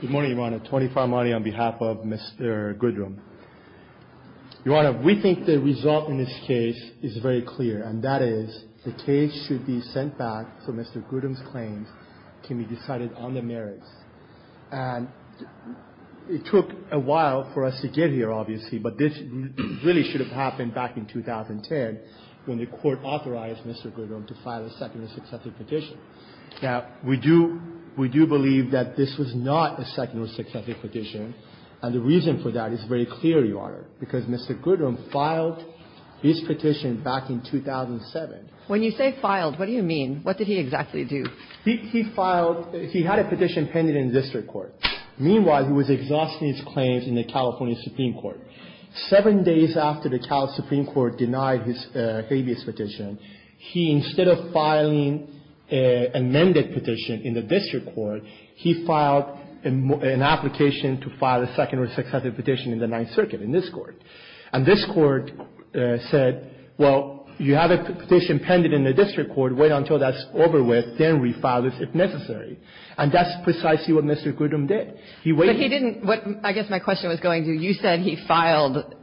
Good morning, Your Honor. Tony Farmani on behalf of Mr. Goodrum. Your Honor, we think the result in this case is very clear, and that is the case should be sent back so Mr. Goodrum's claims can be decided on the merits. And it took a while for us to get here, obviously, but this really should have happened back in 2010 when the Court authorized Mr. Goodrum to file a second and successive petition. Now, we do believe that this was not a second or successive petition, and the reason for that is very clear, Your Honor, because Mr. Goodrum filed his petition back in 2007. When you say filed, what do you mean? What did he exactly do? He filed – he had a petition pending in district court. Meanwhile, he was exhausting his claims in the California Supreme Court. Seven days after the California Supreme Court denied his habeas petition, he, instead of filing an amended petition in the district court, he filed an application to file a second or successive petition in the Ninth Circuit in this Court. And this Court said, well, you have a petition pending in the district court. Wait until that's over with. Then refile it if necessary. And that's precisely what Mr. Goodrum did. He waited. But he didn't – what I guess my question was going to, you said he filed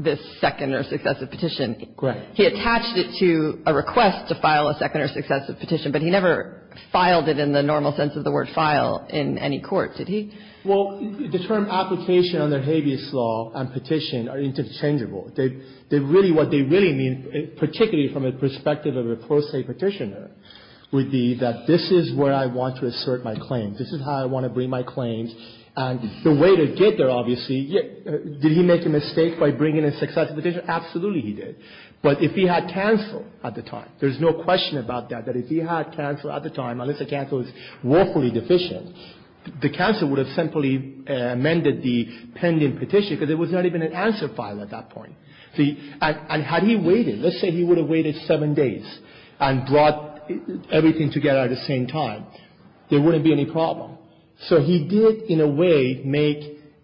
this second or successive petition. Correct. He attached it to a request to file a second or successive petition, but he never filed it in the normal sense of the word file in any court, did he? Well, the term application under habeas law and petition are interchangeable. They really – what they really mean, particularly from the perspective of a pro se petitioner, would be that this is where I want to assert my claims. This is how I want to bring my claims. And the way to get there, obviously, did he make a mistake by bringing a successive petition? Absolutely he did. But if he had canceled at the time, there's no question about that, that if he had canceled at the time, unless the cancel was woefully deficient, the counsel would have simply amended the pending petition because there was not even an answer file at that point. And had he waited, let's say he would have waited seven days and brought everything together at the same time, there wouldn't be any problem. So he did in a way make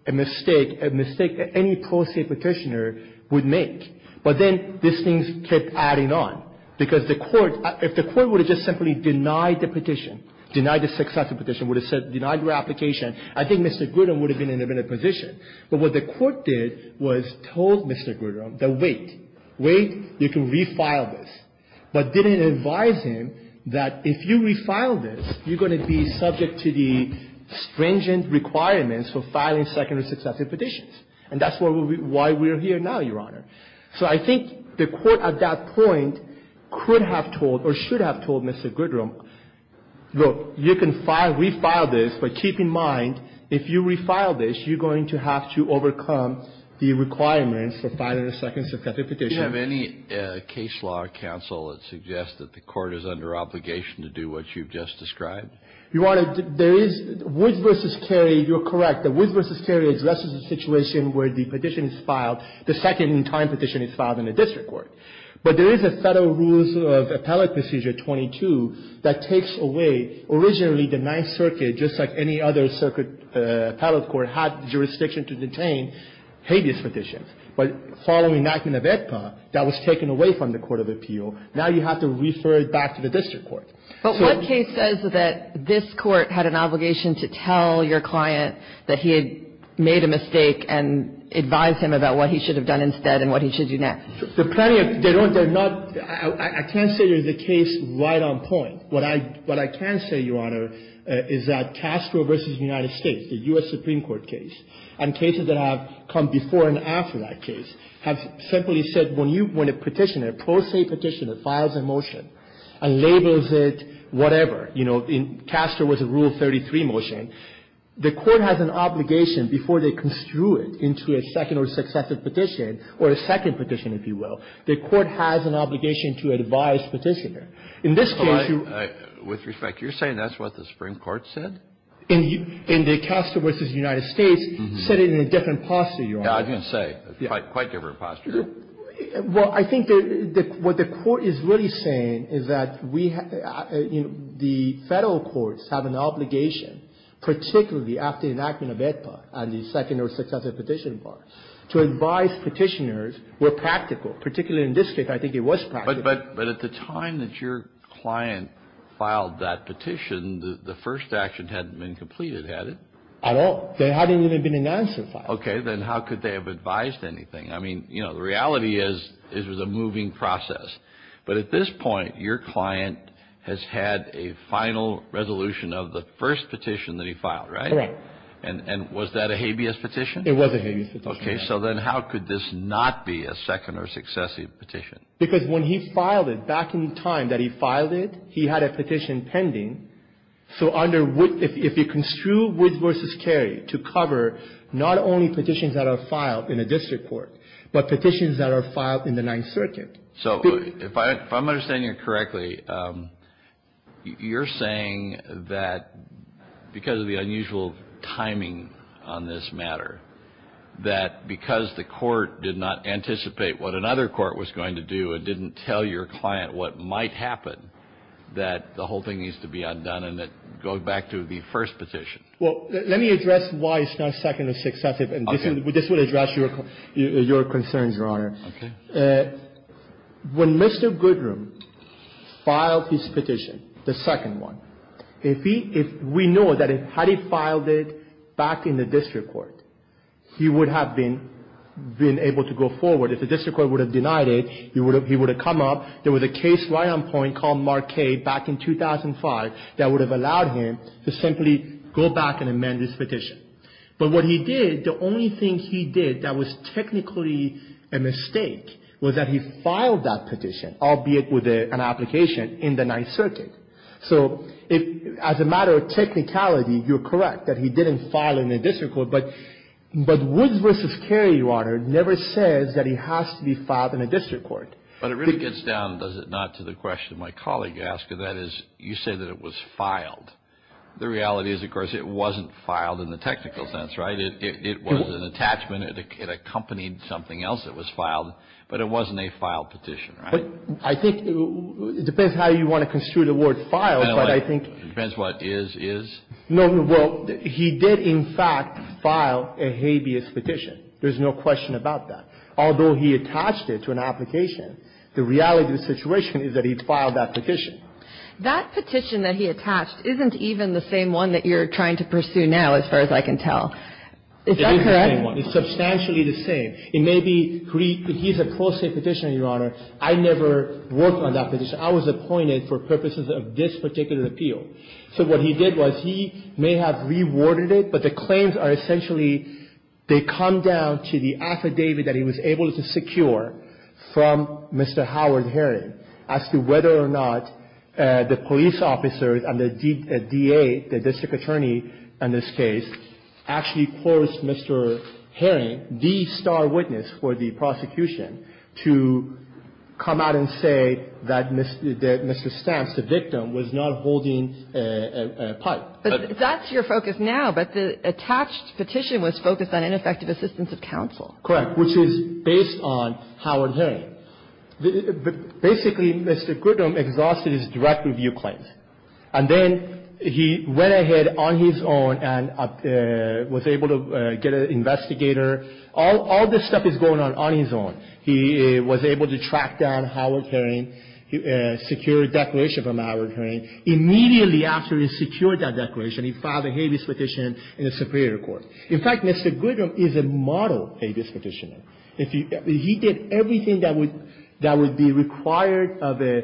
a mistake, a mistake that any pro se petitioner would make. But then these things kept adding on because the court – if the court would have just simply denied the petition, denied the successive petition, would have said denied your application, I think Mr. Grudem would have been in a better position. But what the court did was told Mr. Grudem that wait, wait, you can refile this, but didn't advise him that if you refile this, you're going to be subject to the stringent requirements for filing second or successive petitions. And that's why we're here now, Your Honor. So I think the court at that point could have told or should have told Mr. Grudem, look, you can refile this, but keep in mind if you refile this, you're going to have to overcome the requirements for filing a second successive petition. Kennedy, do you have any case law, counsel, that suggests that the court is under obligation to do what you've just described? Your Honor, there is – Woods v. Carey, you're correct. Woods v. Carey addresses the situation where the petition is filed, the second-in-time petition is filed in the district court. But there is a Federal Rules of Appellate Procedure 22 that takes away, originally the Ninth Circuit, just like any other circuit appellate court, had jurisdiction to detain habeas petitions. But following the enactment of AEDPA, that was taken away from the court of appeal. Now you have to refer it back to the district court. So – But what case says that this Court had an obligation to tell your client that he had made a mistake and advise him about what he should have done instead and what he should do next? There are plenty of – they're not – I can't say there's a case right on point. What I – what I can say, Your Honor, is that Castro v. United States, the U.S. Supreme Court case, and cases that have come before and after that case, have simply said when you – when a petitioner, a pro se petitioner, files a motion and labels it whatever, you know, in Castro v. Rule 33 motion, the court has an obligation before they construe it into a second or successive petition, or a second petition, if you will, the court has an obligation to advise petitioner. In this case, you – With respect, you're saying that's what the Supreme Court said? In the Castro v. United States, said it in a different posture, Your Honor. Yeah, I was going to say, quite different posture. Well, I think that what the court is really saying is that we – you know, the Federal courts have an obligation, particularly after the enactment of AEDPA and the second or successive petition part, to advise petitioners where practical. Particularly in this case, I think it was practical. But at the time that your client filed that petition, the first action hadn't been completed, had it? At all. There hadn't even been an answer filed. Okay, then how could they have advised anything? I mean, you know, the reality is it was a moving process. But at this point, your client has had a final resolution of the first petition that he filed, right? Correct. And was that a habeas petition? It was a habeas petition, yes. Okay, so then how could this not be a second or successive petition? Because when he filed it, back in the time that he filed it, he had a petition pending. So under – if you construe Woods v. Carey to cover not only petitions that are filed in a district court, but petitions that are filed in the Ninth Circuit. So if I'm understanding you correctly, you're saying that because of the unusual timing on this matter, that because the court did not anticipate what another court was going to do, it didn't tell your client what might happen, that the whole thing needs to be undone and go back to the first petition. Well, let me address why it's not second or successive. Okay. And this will address your concerns, Your Honor. Okay. When Mr. Goodrum filed his petition, the second one, if he – we know that had he filed it back in the district court, he would have been able to go forward. If the district court would have denied it, he would have come up. There was a case right on point called Marquette back in 2005 that would have allowed him to simply go back and amend his petition. But what he did, the only thing he did that was technically a mistake was that he filed that petition, albeit with an application, in the Ninth Circuit. So as a matter of technicality, you're correct that he didn't file in the district court. But Woods v. Carey, Your Honor, never says that he has to be filed in a district court. But it really gets down, does it not, to the question my colleague asked. That is, you say that it was filed. The reality is, of course, it wasn't filed in the technical sense, right? It was an attachment. It accompanied something else that was filed. But it wasn't a filed petition, right? But I think it depends how you want to construe the word filed, but I think — It depends what is, is? No. Well, he did, in fact, file a habeas petition. There's no question about that. Although he attached it to an application, the reality of the situation is that he filed that petition. That petition that he attached isn't even the same one that you're trying to pursue now, as far as I can tell. Is that correct? It is the same one. It's substantially the same. It may be — he's a pro se petitioner, Your Honor. I never worked on that petition. I was appointed for purposes of this particular appeal. So what he did was he may have reworded it, but the claims are essentially they come down to the affidavit that he was able to secure from Mr. Howard Herring as to whether or not the police officers and the DA, the district attorney in this case, actually forced Mr. Herring, the star witness for the prosecution, to come out and say that Mr. Stamps, the victim, was not holding a pipe. But that's your focus now. But the attached petition was focused on ineffective assistance of counsel. Correct, which is based on Howard Herring. Basically, Mr. Goodham exhausted his direct review claims. And then he went ahead on his own and was able to get an investigator. All this stuff is going on on his own. He was able to track down Howard Herring, secure a declaration from Howard Herring. Immediately after he secured that declaration, he filed a habeas petition in the Superior Court. In fact, Mr. Goodham is a model habeas petitioner. He did everything that would be required of a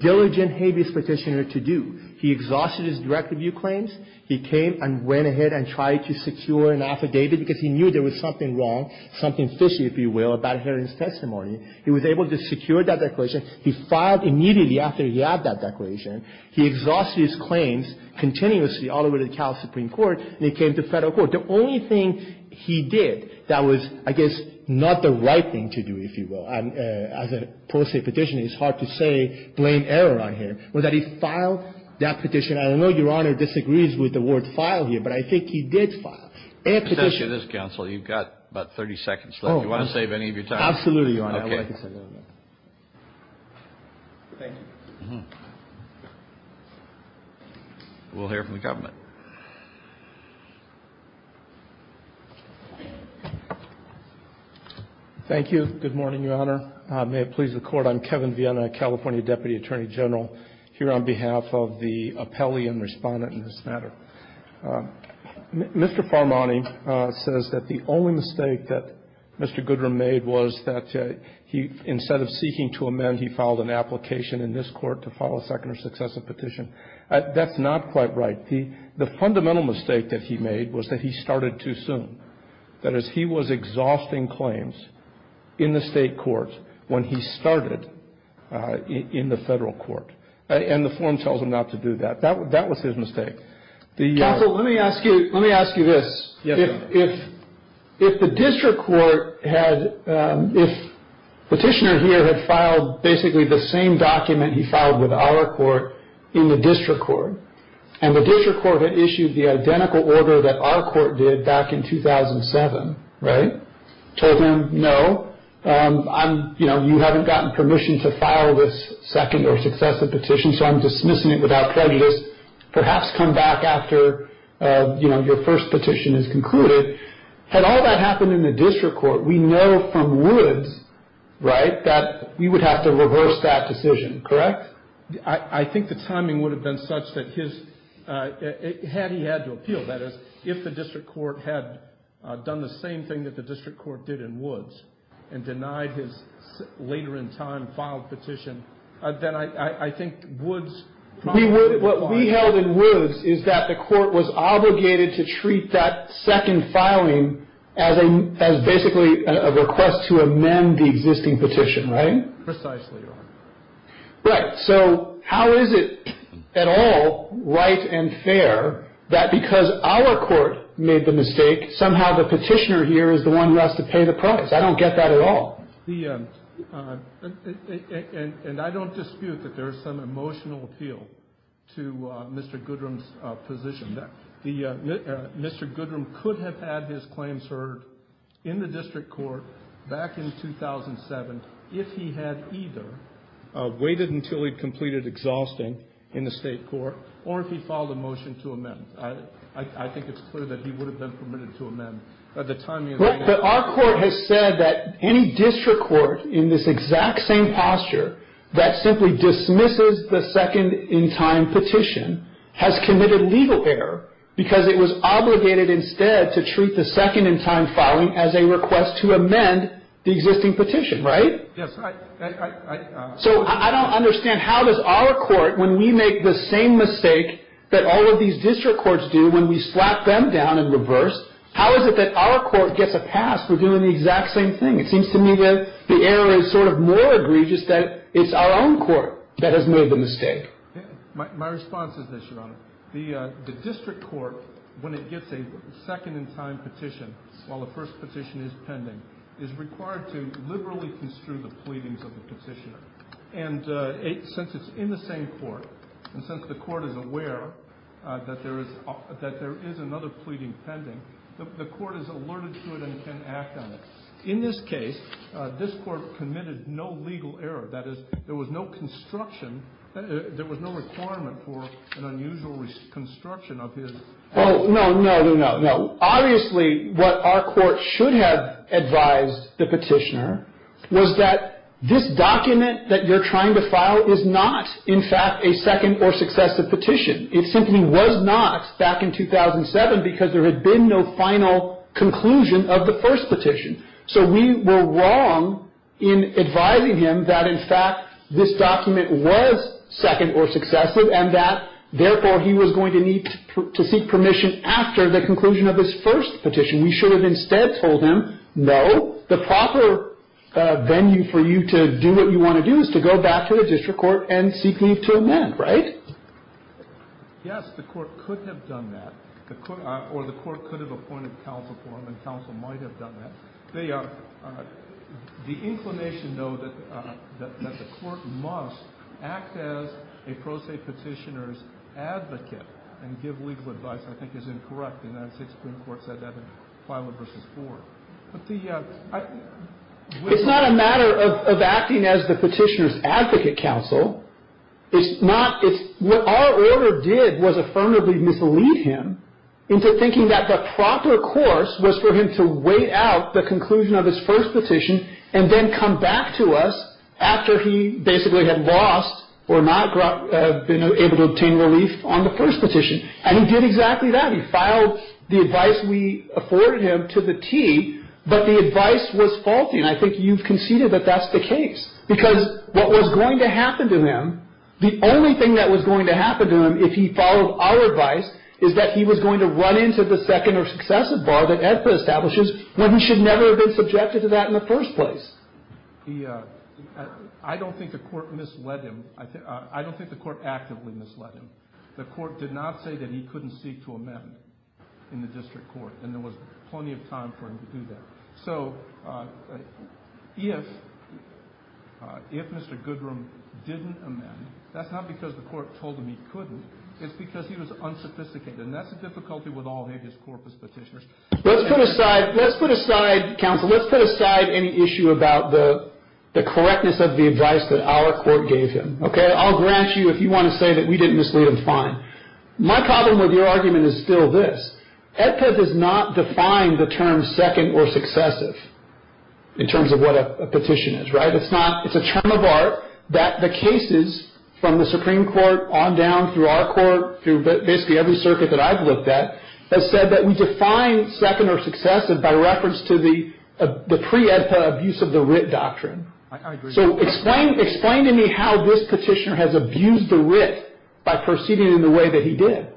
diligent habeas petitioner to do. He exhausted his direct review claims. He came and went ahead and tried to secure an affidavit because he knew there was something wrong, something fishy, if you will, about Herring's testimony. He was able to secure that declaration. He filed immediately after he had that declaration. He exhausted his claims continuously all the way to the Cal Supreme Court, and he came to Federal Court. The only thing he did that was, I guess, not the right thing to do, if you will, as a pro se petitioner, it's hard to say blame error on him, was that he filed that petition. I don't know if Your Honor disagrees with the word file here, but I think he did file. Any petition. Kennedy. Let me ask you this, counsel. You've got about 30 seconds left. Do you want to save any of your time? Absolutely, Your Honor. Okay. Thank you. We'll hear from the government. Thank you. Good morning, Your Honor. May it please the Court. I'm Kevin Viena, California Deputy Attorney General, here on behalf of the appellee and respondent in this matter. Mr. Farmani says that the only mistake that Mr. Goodrum made was that he, instead of seeking to amend, he filed an application in this Court to file a second or successive petition. That's not quite right. The fundamental mistake that he made was that he started too soon. That is, he was exhausting claims in the state court when he started in the federal court. And the form tells him not to do that. That was his mistake. Counsel, let me ask you this. Yes, Your Honor. If the district court had, if the petitioner here had filed basically the same document he filed with our court in the district court, and the district court had issued the identical order that our court did back in 2007, right? Told him, no, I'm, you know, you haven't gotten permission to file this second or successive petition, so I'm dismissing it without prejudice. Perhaps come back after, you know, your first petition is concluded. Had all that happened in the district court, we know from Woods, right, that we would have to reverse that decision, correct? I think the timing would have been such that his, had he had to appeal, that is, if the district court had done the same thing that the district court did in Woods and denied his later in time filed petition, then I think Woods probably would have filed. What we held in Woods is that the court was obligated to treat that second filing as a, as basically a request to amend the existing petition, right? Precisely, Your Honor. Right. So how is it at all right and fair that because our court made the mistake, somehow the petitioner here is the one who has to pay the price? I don't get that at all. The, and I don't dispute that there is some emotional appeal to Mr. Goodrum's position. Mr. Goodrum could have had his claims heard in the district court back in 2007 if he had either waited until he'd completed exhausting in the state court or if he filed a motion to amend. I think it's clear that he would have been permitted to amend by the time he had. But our court has said that any district court in this exact same posture that simply dismisses the second in time petition has committed legal error because it was obligated instead to treat the second in time filing as a request to amend the existing petition, right? Yes. I, I, I. So I don't understand how does our court, when we make the same mistake that all of these district courts do when we slap them down and reverse, how is it that our court gets a pass for doing the exact same thing? It seems to me that the error is sort of more egregious that it's our own court that has made the mistake. My, my response is this, Your Honor. The, the district court, when it gets a second in time petition, while the first petition is pending, is required to liberally construe the pleadings of the petitioner. And it, since it's in the same court, and since the court is aware that there is, that there is another pleading pending, the, the court is alerted to it and can act on it. In this case, this court committed no legal error. That is, there was no construction, there was no requirement for an unusual reconstruction of his. Oh, no, no, no, no. Obviously, what our court should have advised the petitioner was that this document that you're trying to file is not, in fact, a second or successive petition. It simply was not back in 2007 because there had been no final conclusion of the first petition. So we were wrong in advising him that, in fact, this document was second or successive and that, therefore, he was going to need to seek permission after the conclusion of his first petition. We should have instead told him, no, the proper venue for you to do what you want to do is to go back to the district court and seek leave to amend, right? Yes, the court could have done that. Or the court could have appointed counsel for him, and counsel might have done that. The inclination, though, that the court must act as a pro se petitioner's advocate and give legal advice, I think, is incorrect. And I think Supreme Court said that in Filer v. Ford. It's not a matter of acting as the petitioner's advocate, counsel. What our order did was affirmatively mislead him into thinking that the proper course was for him to wait out the conclusion of his first petition and then come back to us after he basically had lost or not been able to obtain relief on the first petition. And he did exactly that. He filed the advice we afforded him to the T, but the advice was faulty. And I think you've conceded that that's the case. Because what was going to happen to him, the only thing that was going to happen to him if he followed our advice is that he was going to run into the second or successive bar that AEDPA establishes when he should never have been subjected to that in the first place. I don't think the court misled him. I don't think the court actively misled him. The court did not say that he couldn't seek to amend in the district court, and there was plenty of time for him to do that. So if Mr. Goodrum didn't amend, that's not because the court told him he couldn't. It's because he was unsophisticated, and that's the difficulty with all AEDPA's corpus petitioners. Let's put aside, counsel, any issue about the correctness of the advice that our court gave him. I'll grant you if you want to say that we didn't mislead him, fine. My problem with your argument is still this. AEDPA does not define the term second or successive in terms of what a petition is, right? It's not. It's a term of art that the cases from the Supreme Court on down through our court, through basically every circuit that I've looked at, has said that we define second or successive by reference to the pre-AEDPA abuse of the writ doctrine. I agree. So explain to me how this petitioner has abused the writ by proceeding in the way that he did.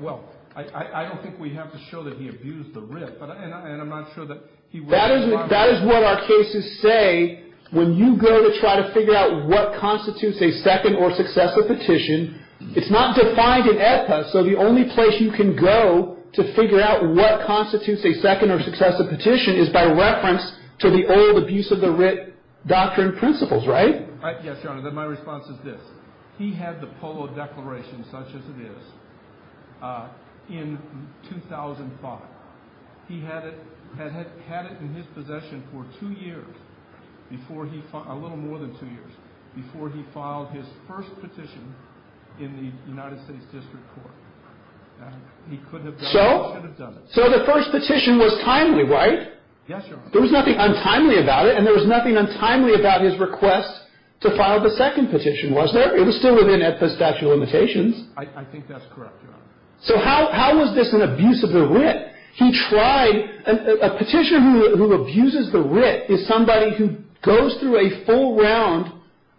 Well, I don't think we have to show that he abused the writ, and I'm not sure that he was responsible. That is what our cases say when you go to try to figure out what constitutes a second or successive petition. It's not defined in AEDPA, so the only place you can go to figure out what constitutes a second or successive petition is by reference to the old abuse of the writ doctrine principles, right? Yes, Your Honor. My response is this. He had the Polo Declaration, such as it is, in 2005. He had it in his possession for two years, a little more than two years, before he filed his first petition in the United States District Court. He could have done it. So the first petition was timely, right? Yes, Your Honor. There was nothing untimely about it, and there was nothing untimely about his request to file the second petition, was there? It was still within AEDPA's statute of limitations. I think that's correct, Your Honor. So how was this an abuse of the writ? He tried – a petitioner who abuses the writ is somebody who goes through a full round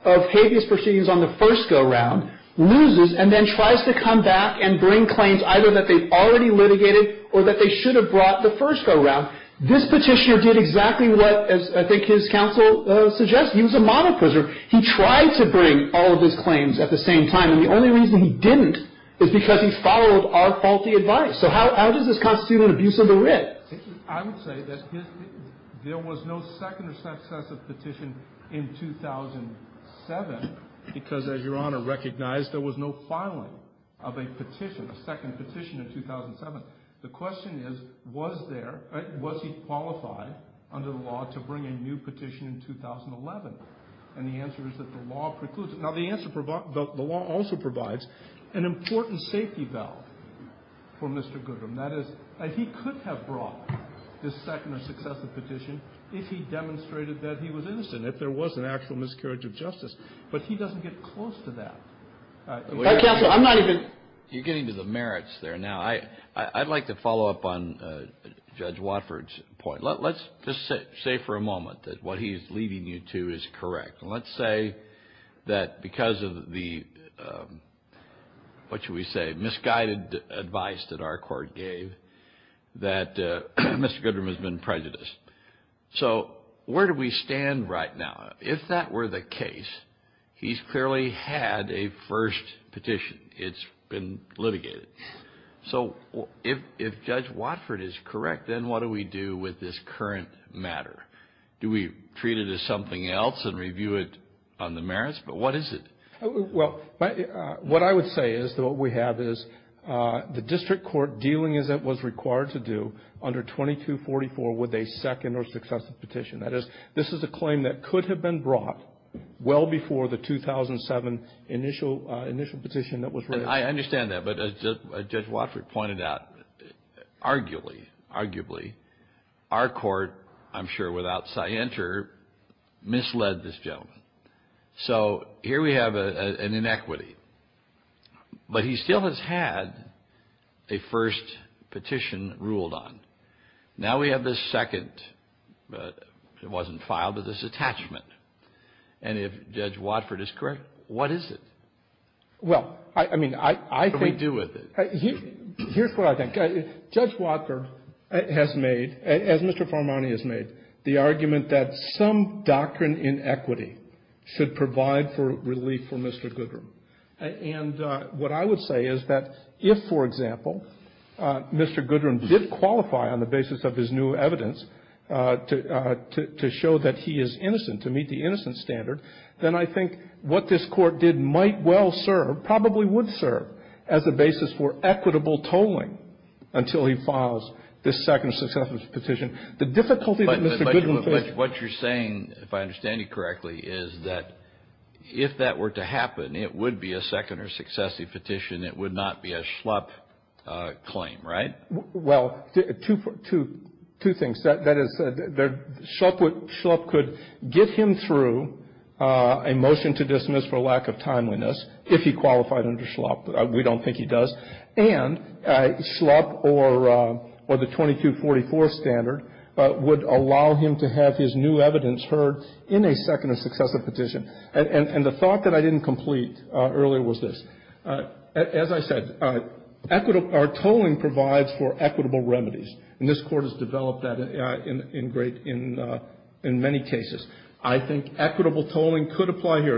of habeas proceedings on the first go-round, loses, and then tries to come back and bring claims either that they've already litigated or that they should have brought the first go-round. This petitioner did exactly what I think his counsel suggested. He was a monopoiser. He tried to bring all of his claims at the same time, and the only reason he didn't is because he followed our faulty advice. So how does this constitute an abuse of the writ? I would say that there was no second or successive petition in 2007 because, as Your Honor recognized, there was no filing of a petition, a second petition in 2007. The question is, was there – was he qualified under the law to bring a new petition in 2011? And the answer is that the law precludes it. Now, the answer – the law also provides an important safety valve for Mr. Goodram. That is, he could have brought his second or successive petition if he demonstrated that he was innocent, if there was an actual miscarriage of justice, but he doesn't get close to that. Counsel, I'm not even – You're getting to the merits there now. I'd like to follow up on Judge Watford's point. Let's just say for a moment that what he's leading you to is correct. Let's say that because of the – what should we say – misguided advice that our court gave, that Mr. Goodram has been prejudiced. So where do we stand right now? If that were the case, he's clearly had a first petition. It's been litigated. So if Judge Watford is correct, then what do we do with this current matter? Do we treat it as something else and review it on the merits? But what is it? Well, what I would say is that what we have is the district court dealing as it was required to do under 2244 with a second or successive petition. That is, this is a claim that could have been brought well before the 2007 initial petition that was raised. I understand that. But as Judge Watford pointed out, arguably, our court, I'm sure, without scienter, misled this gentleman. So here we have an inequity. But he still has had a first petition ruled on. Now we have this second. It wasn't filed, but this attachment. And if Judge Watford is correct, what is it? Well, I mean, I think – What do we do with it? Here's what I think. Judge Watford has made, as Mr. Farmani has made, the argument that some doctrine in equity should provide for relief for Mr. Goodram. And what I would say is that if, for example, Mr. Goodram did qualify on the basis of his new evidence to show that he is innocent, to meet the innocent standard, then I think what this court did might well serve, probably would serve, as a basis for equitable tolling until he files this second or successive petition. The difficulty that Mr. Goodram faces – It would be a second or successive petition. It would not be a Schlupp claim, right? Well, two things. That is, Schlupp could get him through a motion to dismiss for lack of timeliness if he qualified under Schlupp. We don't think he does. And Schlupp or the 2244 standard would allow him to have his new evidence heard in a second or successive petition. And the thought that I didn't complete earlier was this. As I said, our tolling provides for equitable remedies. And this Court has developed that in many cases. I think equitable tolling could apply here.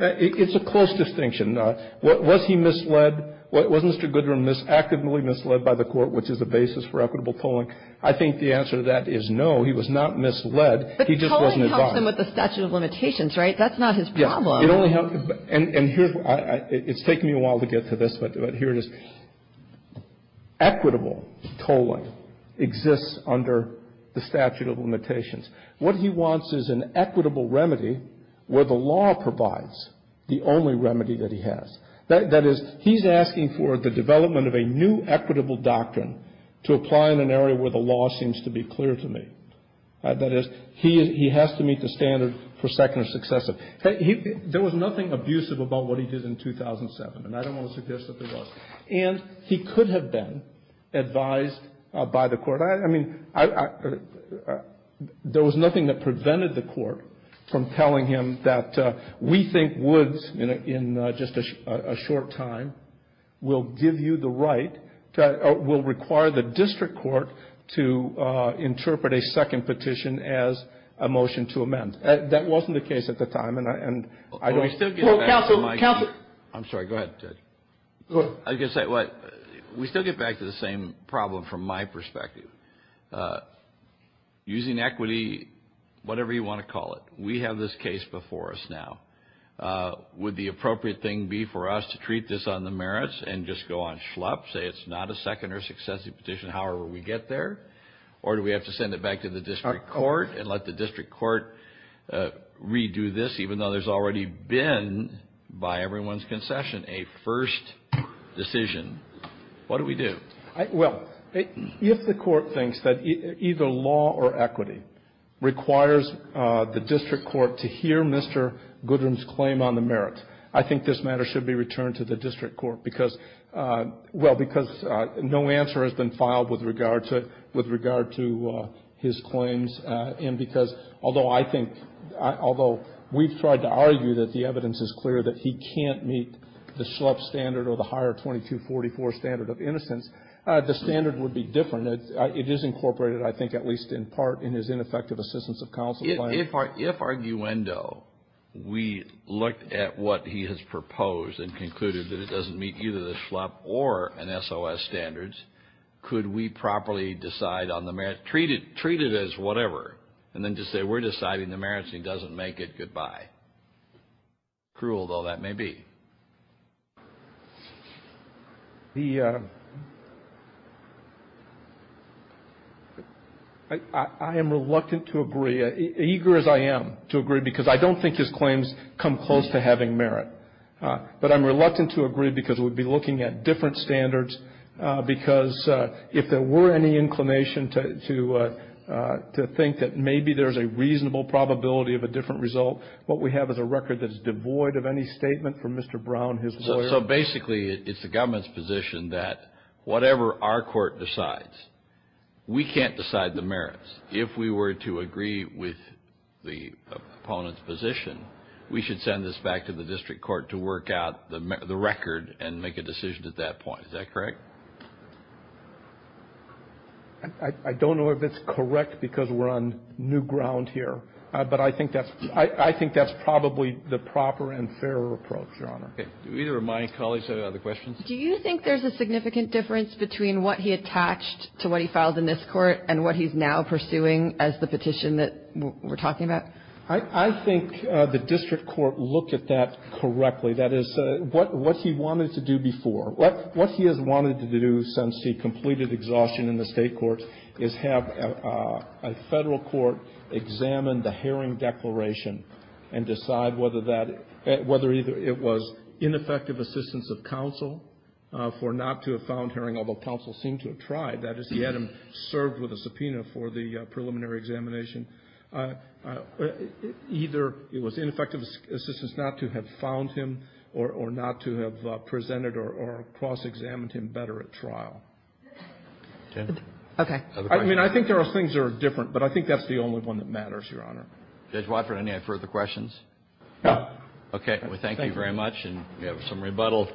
It's a close distinction. Was he misled? Was Mr. Goodram actively misled by the Court, which is the basis for equitable tolling? I think the answer to that is no. He was not misled. He just wasn't advised. But tolling helps him with the statute of limitations, right? That's not his problem. Yes. It only helps. And here's why. It's taken me a while to get to this, but here it is. Equitable tolling exists under the statute of limitations. What he wants is an equitable remedy where the law provides the only remedy that he has. That is, he's asking for the development of a new equitable doctrine to apply in an area where the law seems to be clear to me. That is, he has to meet the standard for second or successive. There was nothing abusive about what he did in 2007, and I don't want to suggest that there was. And he could have been advised by the Court. I mean, there was nothing that prevented the Court from telling him that we think Woods, in just a short time, will give you the right, will require the district court to interpret a second petition as a motion to amend. That wasn't the case at the time, and I know he still gets that from my view. Counsel, counsel. I'm sorry. Go ahead, Judge. I was going to say, we still get back to the same problem from my perspective. Using equity, whatever you want to call it, we have this case before us now. Would the appropriate thing be for us to treat this on the merits and just go on schlup, say it's not a second or successive petition, however we get there, or do we have to send it back to the district court and let the district court redo this, even though there's already been, by everyone's concession, a first decision? What do we do? Well, if the Court thinks that either law or equity requires the district court to hear Mr. Goodrum's claim on the merits, I think this matter should be returned to the district court because, well, because no answer has been filed with regard to his claims and because, although I think, although we've tried to argue that the evidence is clear that he can't meet the schlup standard or the higher 2244 standard of innocence, the standard would be different. It is incorporated, I think, at least in part in his ineffective assistance of counsel plan. If arguendo, we looked at what he has proposed and concluded that it doesn't meet either the schlup or an SOS standard, could we properly decide on the merits, treat it as whatever, and then just say we're deciding the merits and he doesn't make it, goodbye? Cruel, though, that may be. I am reluctant to agree, eager as I am to agree, because I don't think his claims come close to having merit. But I'm reluctant to agree because we'd be looking at different standards because if there were any inclination to think that maybe there's a reasonable probability of a different result, what we have is a record that is devoid of any statement from Mr. Brown, his lawyer. So basically it's the government's position that whatever our court decides, we can't decide the merits. If we were to agree with the opponent's position, we should send this back to the district court to work out the record and make a decision at that point. Is that correct? I don't know if it's correct because we're on new ground here. But I think that's probably the proper and fairer approach, Your Honor. Do either of my colleagues have other questions? Do you think there's a significant difference between what he attached to what he filed in this court and what he's now pursuing as the petition that we're talking about? I think the district court looked at that correctly. That is, what he wanted to do before. What he has wanted to do since he completed exhaustion in the State court is have a Federal court examine the Herring Declaration and decide whether that, whether either it was ineffective assistance of counsel for not to have found Herring, although counsel seemed to have tried. That is, he had him served with a subpoena for the preliminary examination. Either it was ineffective assistance not to have found him or not to have presented or cross-examined him better at trial. Okay. I mean, I think there are things that are different. But I think that's the only one that matters, Your Honor. Judge Watford, any further questions? No. Okay. Well, thank you very much. And we have some rebuttal.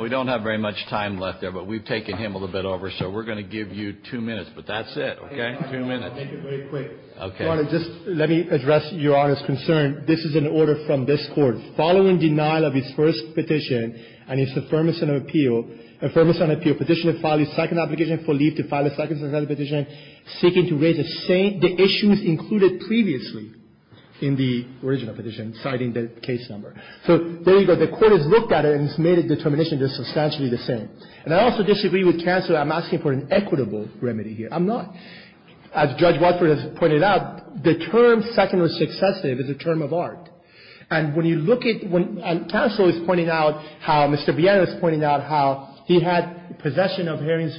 We don't have very much time left there. But we've taken him a little bit over. So we're going to give you two minutes. But that's it, okay? Two minutes. Thank you. Very quick. Okay. Your Honor, just let me address Your Honor's concern. This is an order from this Court. Following denial of his first petition and his affirmation of appeal, the court has looked at it and has made a determination that it's substantially the same. And I also disagree with counsel that I'm asking for an equitable remedy here. I'm not. As Judge Watford has pointed out, the term second was successive. It's a term of art. And when you look at when counsel is pointing out how Mr. Viena is pointing out how he had presented the case in the first place.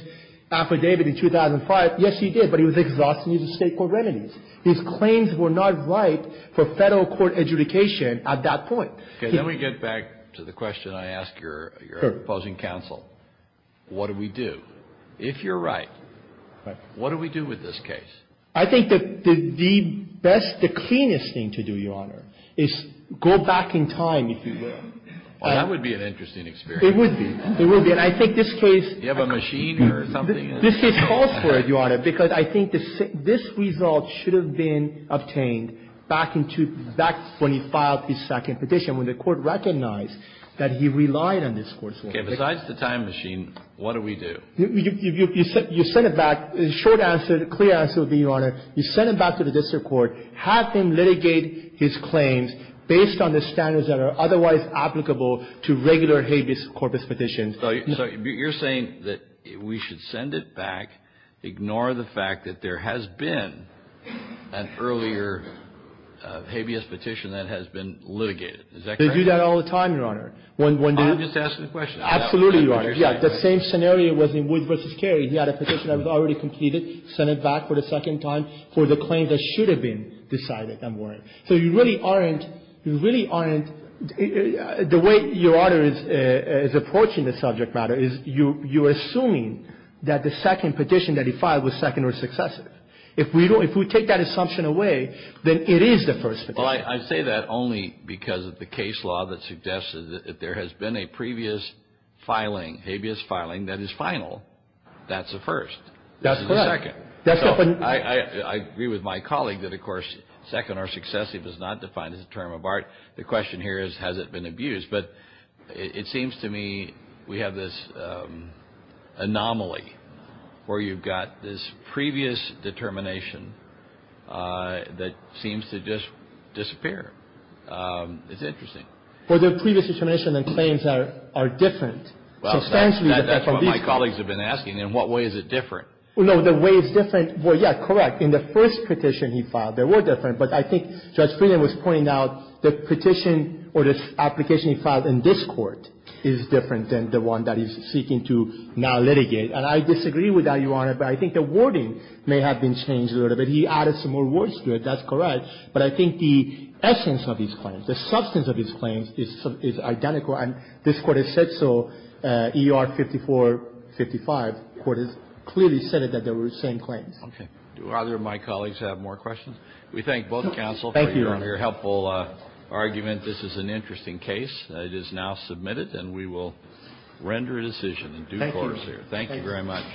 The question is, if he had been in possession of Haring's affidavit in 2005, yes, he did. But he was exhausting it as State court remedies. His claims were not right for Federal court adjudication at that point. Then we get back to the question I ask your opposing counsel. What do we do? If you're right, what do we do with this case? I think that the best, the cleanest thing to do, Your Honor, is go back in time if you will. Well, that would be an interesting experience. It would be. It would be. And I think this case... Do you have a machine or something? This case calls for it, Your Honor, because I think this result should have been obtained back when he filed his second petition, when the court recognized that he relied on this court's... Okay. Besides the time machine, what do we do? You send it back. The short answer, the clear answer would be, Your Honor, you send it back to the district court, have them litigate his claims based on the standards that are otherwise applicable to regular habeas corpus petitions. So you're saying that we should send it back, ignore the fact that there has been an earlier habeas petition that has been litigated. Is that correct? They do that all the time, Your Honor. I'm just asking the question. Absolutely, Your Honor. Yeah. The same scenario was in Wood v. Carey. He had a petition that was already completed, sent it back for the second time for the claim that should have been decided and weren't. So you really aren't, you really aren't, the way Your Honor is approaching the subject matter is you're assuming that the second petition that he filed was second or successive. If we take that assumption away, then it is the first petition. Well, I say that only because of the case law that suggests that if there has been a previous filing, habeas filing, that is final, that's a first. That's correct. This is a second. I agree with my colleague that, of course, second or successive is not defined as a term of art. The question here is, has it been abused? But it seems to me we have this anomaly where you've got this previous determination that seems to just disappear. It's interesting. Well, the previous determination and claims are different. Well, that's what my colleagues have been asking. In what way is it different? Well, no, the way is different. Well, yeah, correct. In the first petition he filed, they were different. But I think Judge Friedman was pointing out the petition or the application he filed in this Court is different than the one that he's seeking to now litigate. And I disagree with that, Your Honor, but I think the wording may have been changed a little bit. He added some more words to it. That's correct. But I think the essence of his claims, the substance of his claims is identical. And this Court has said so. E.R. 5455 clearly said that they were the same claims. Okay. Do either of my colleagues have more questions? We thank both counsel for your helpful argument. This is an interesting case. It is now submitted, and we will render a decision in due course here. Thank you very much.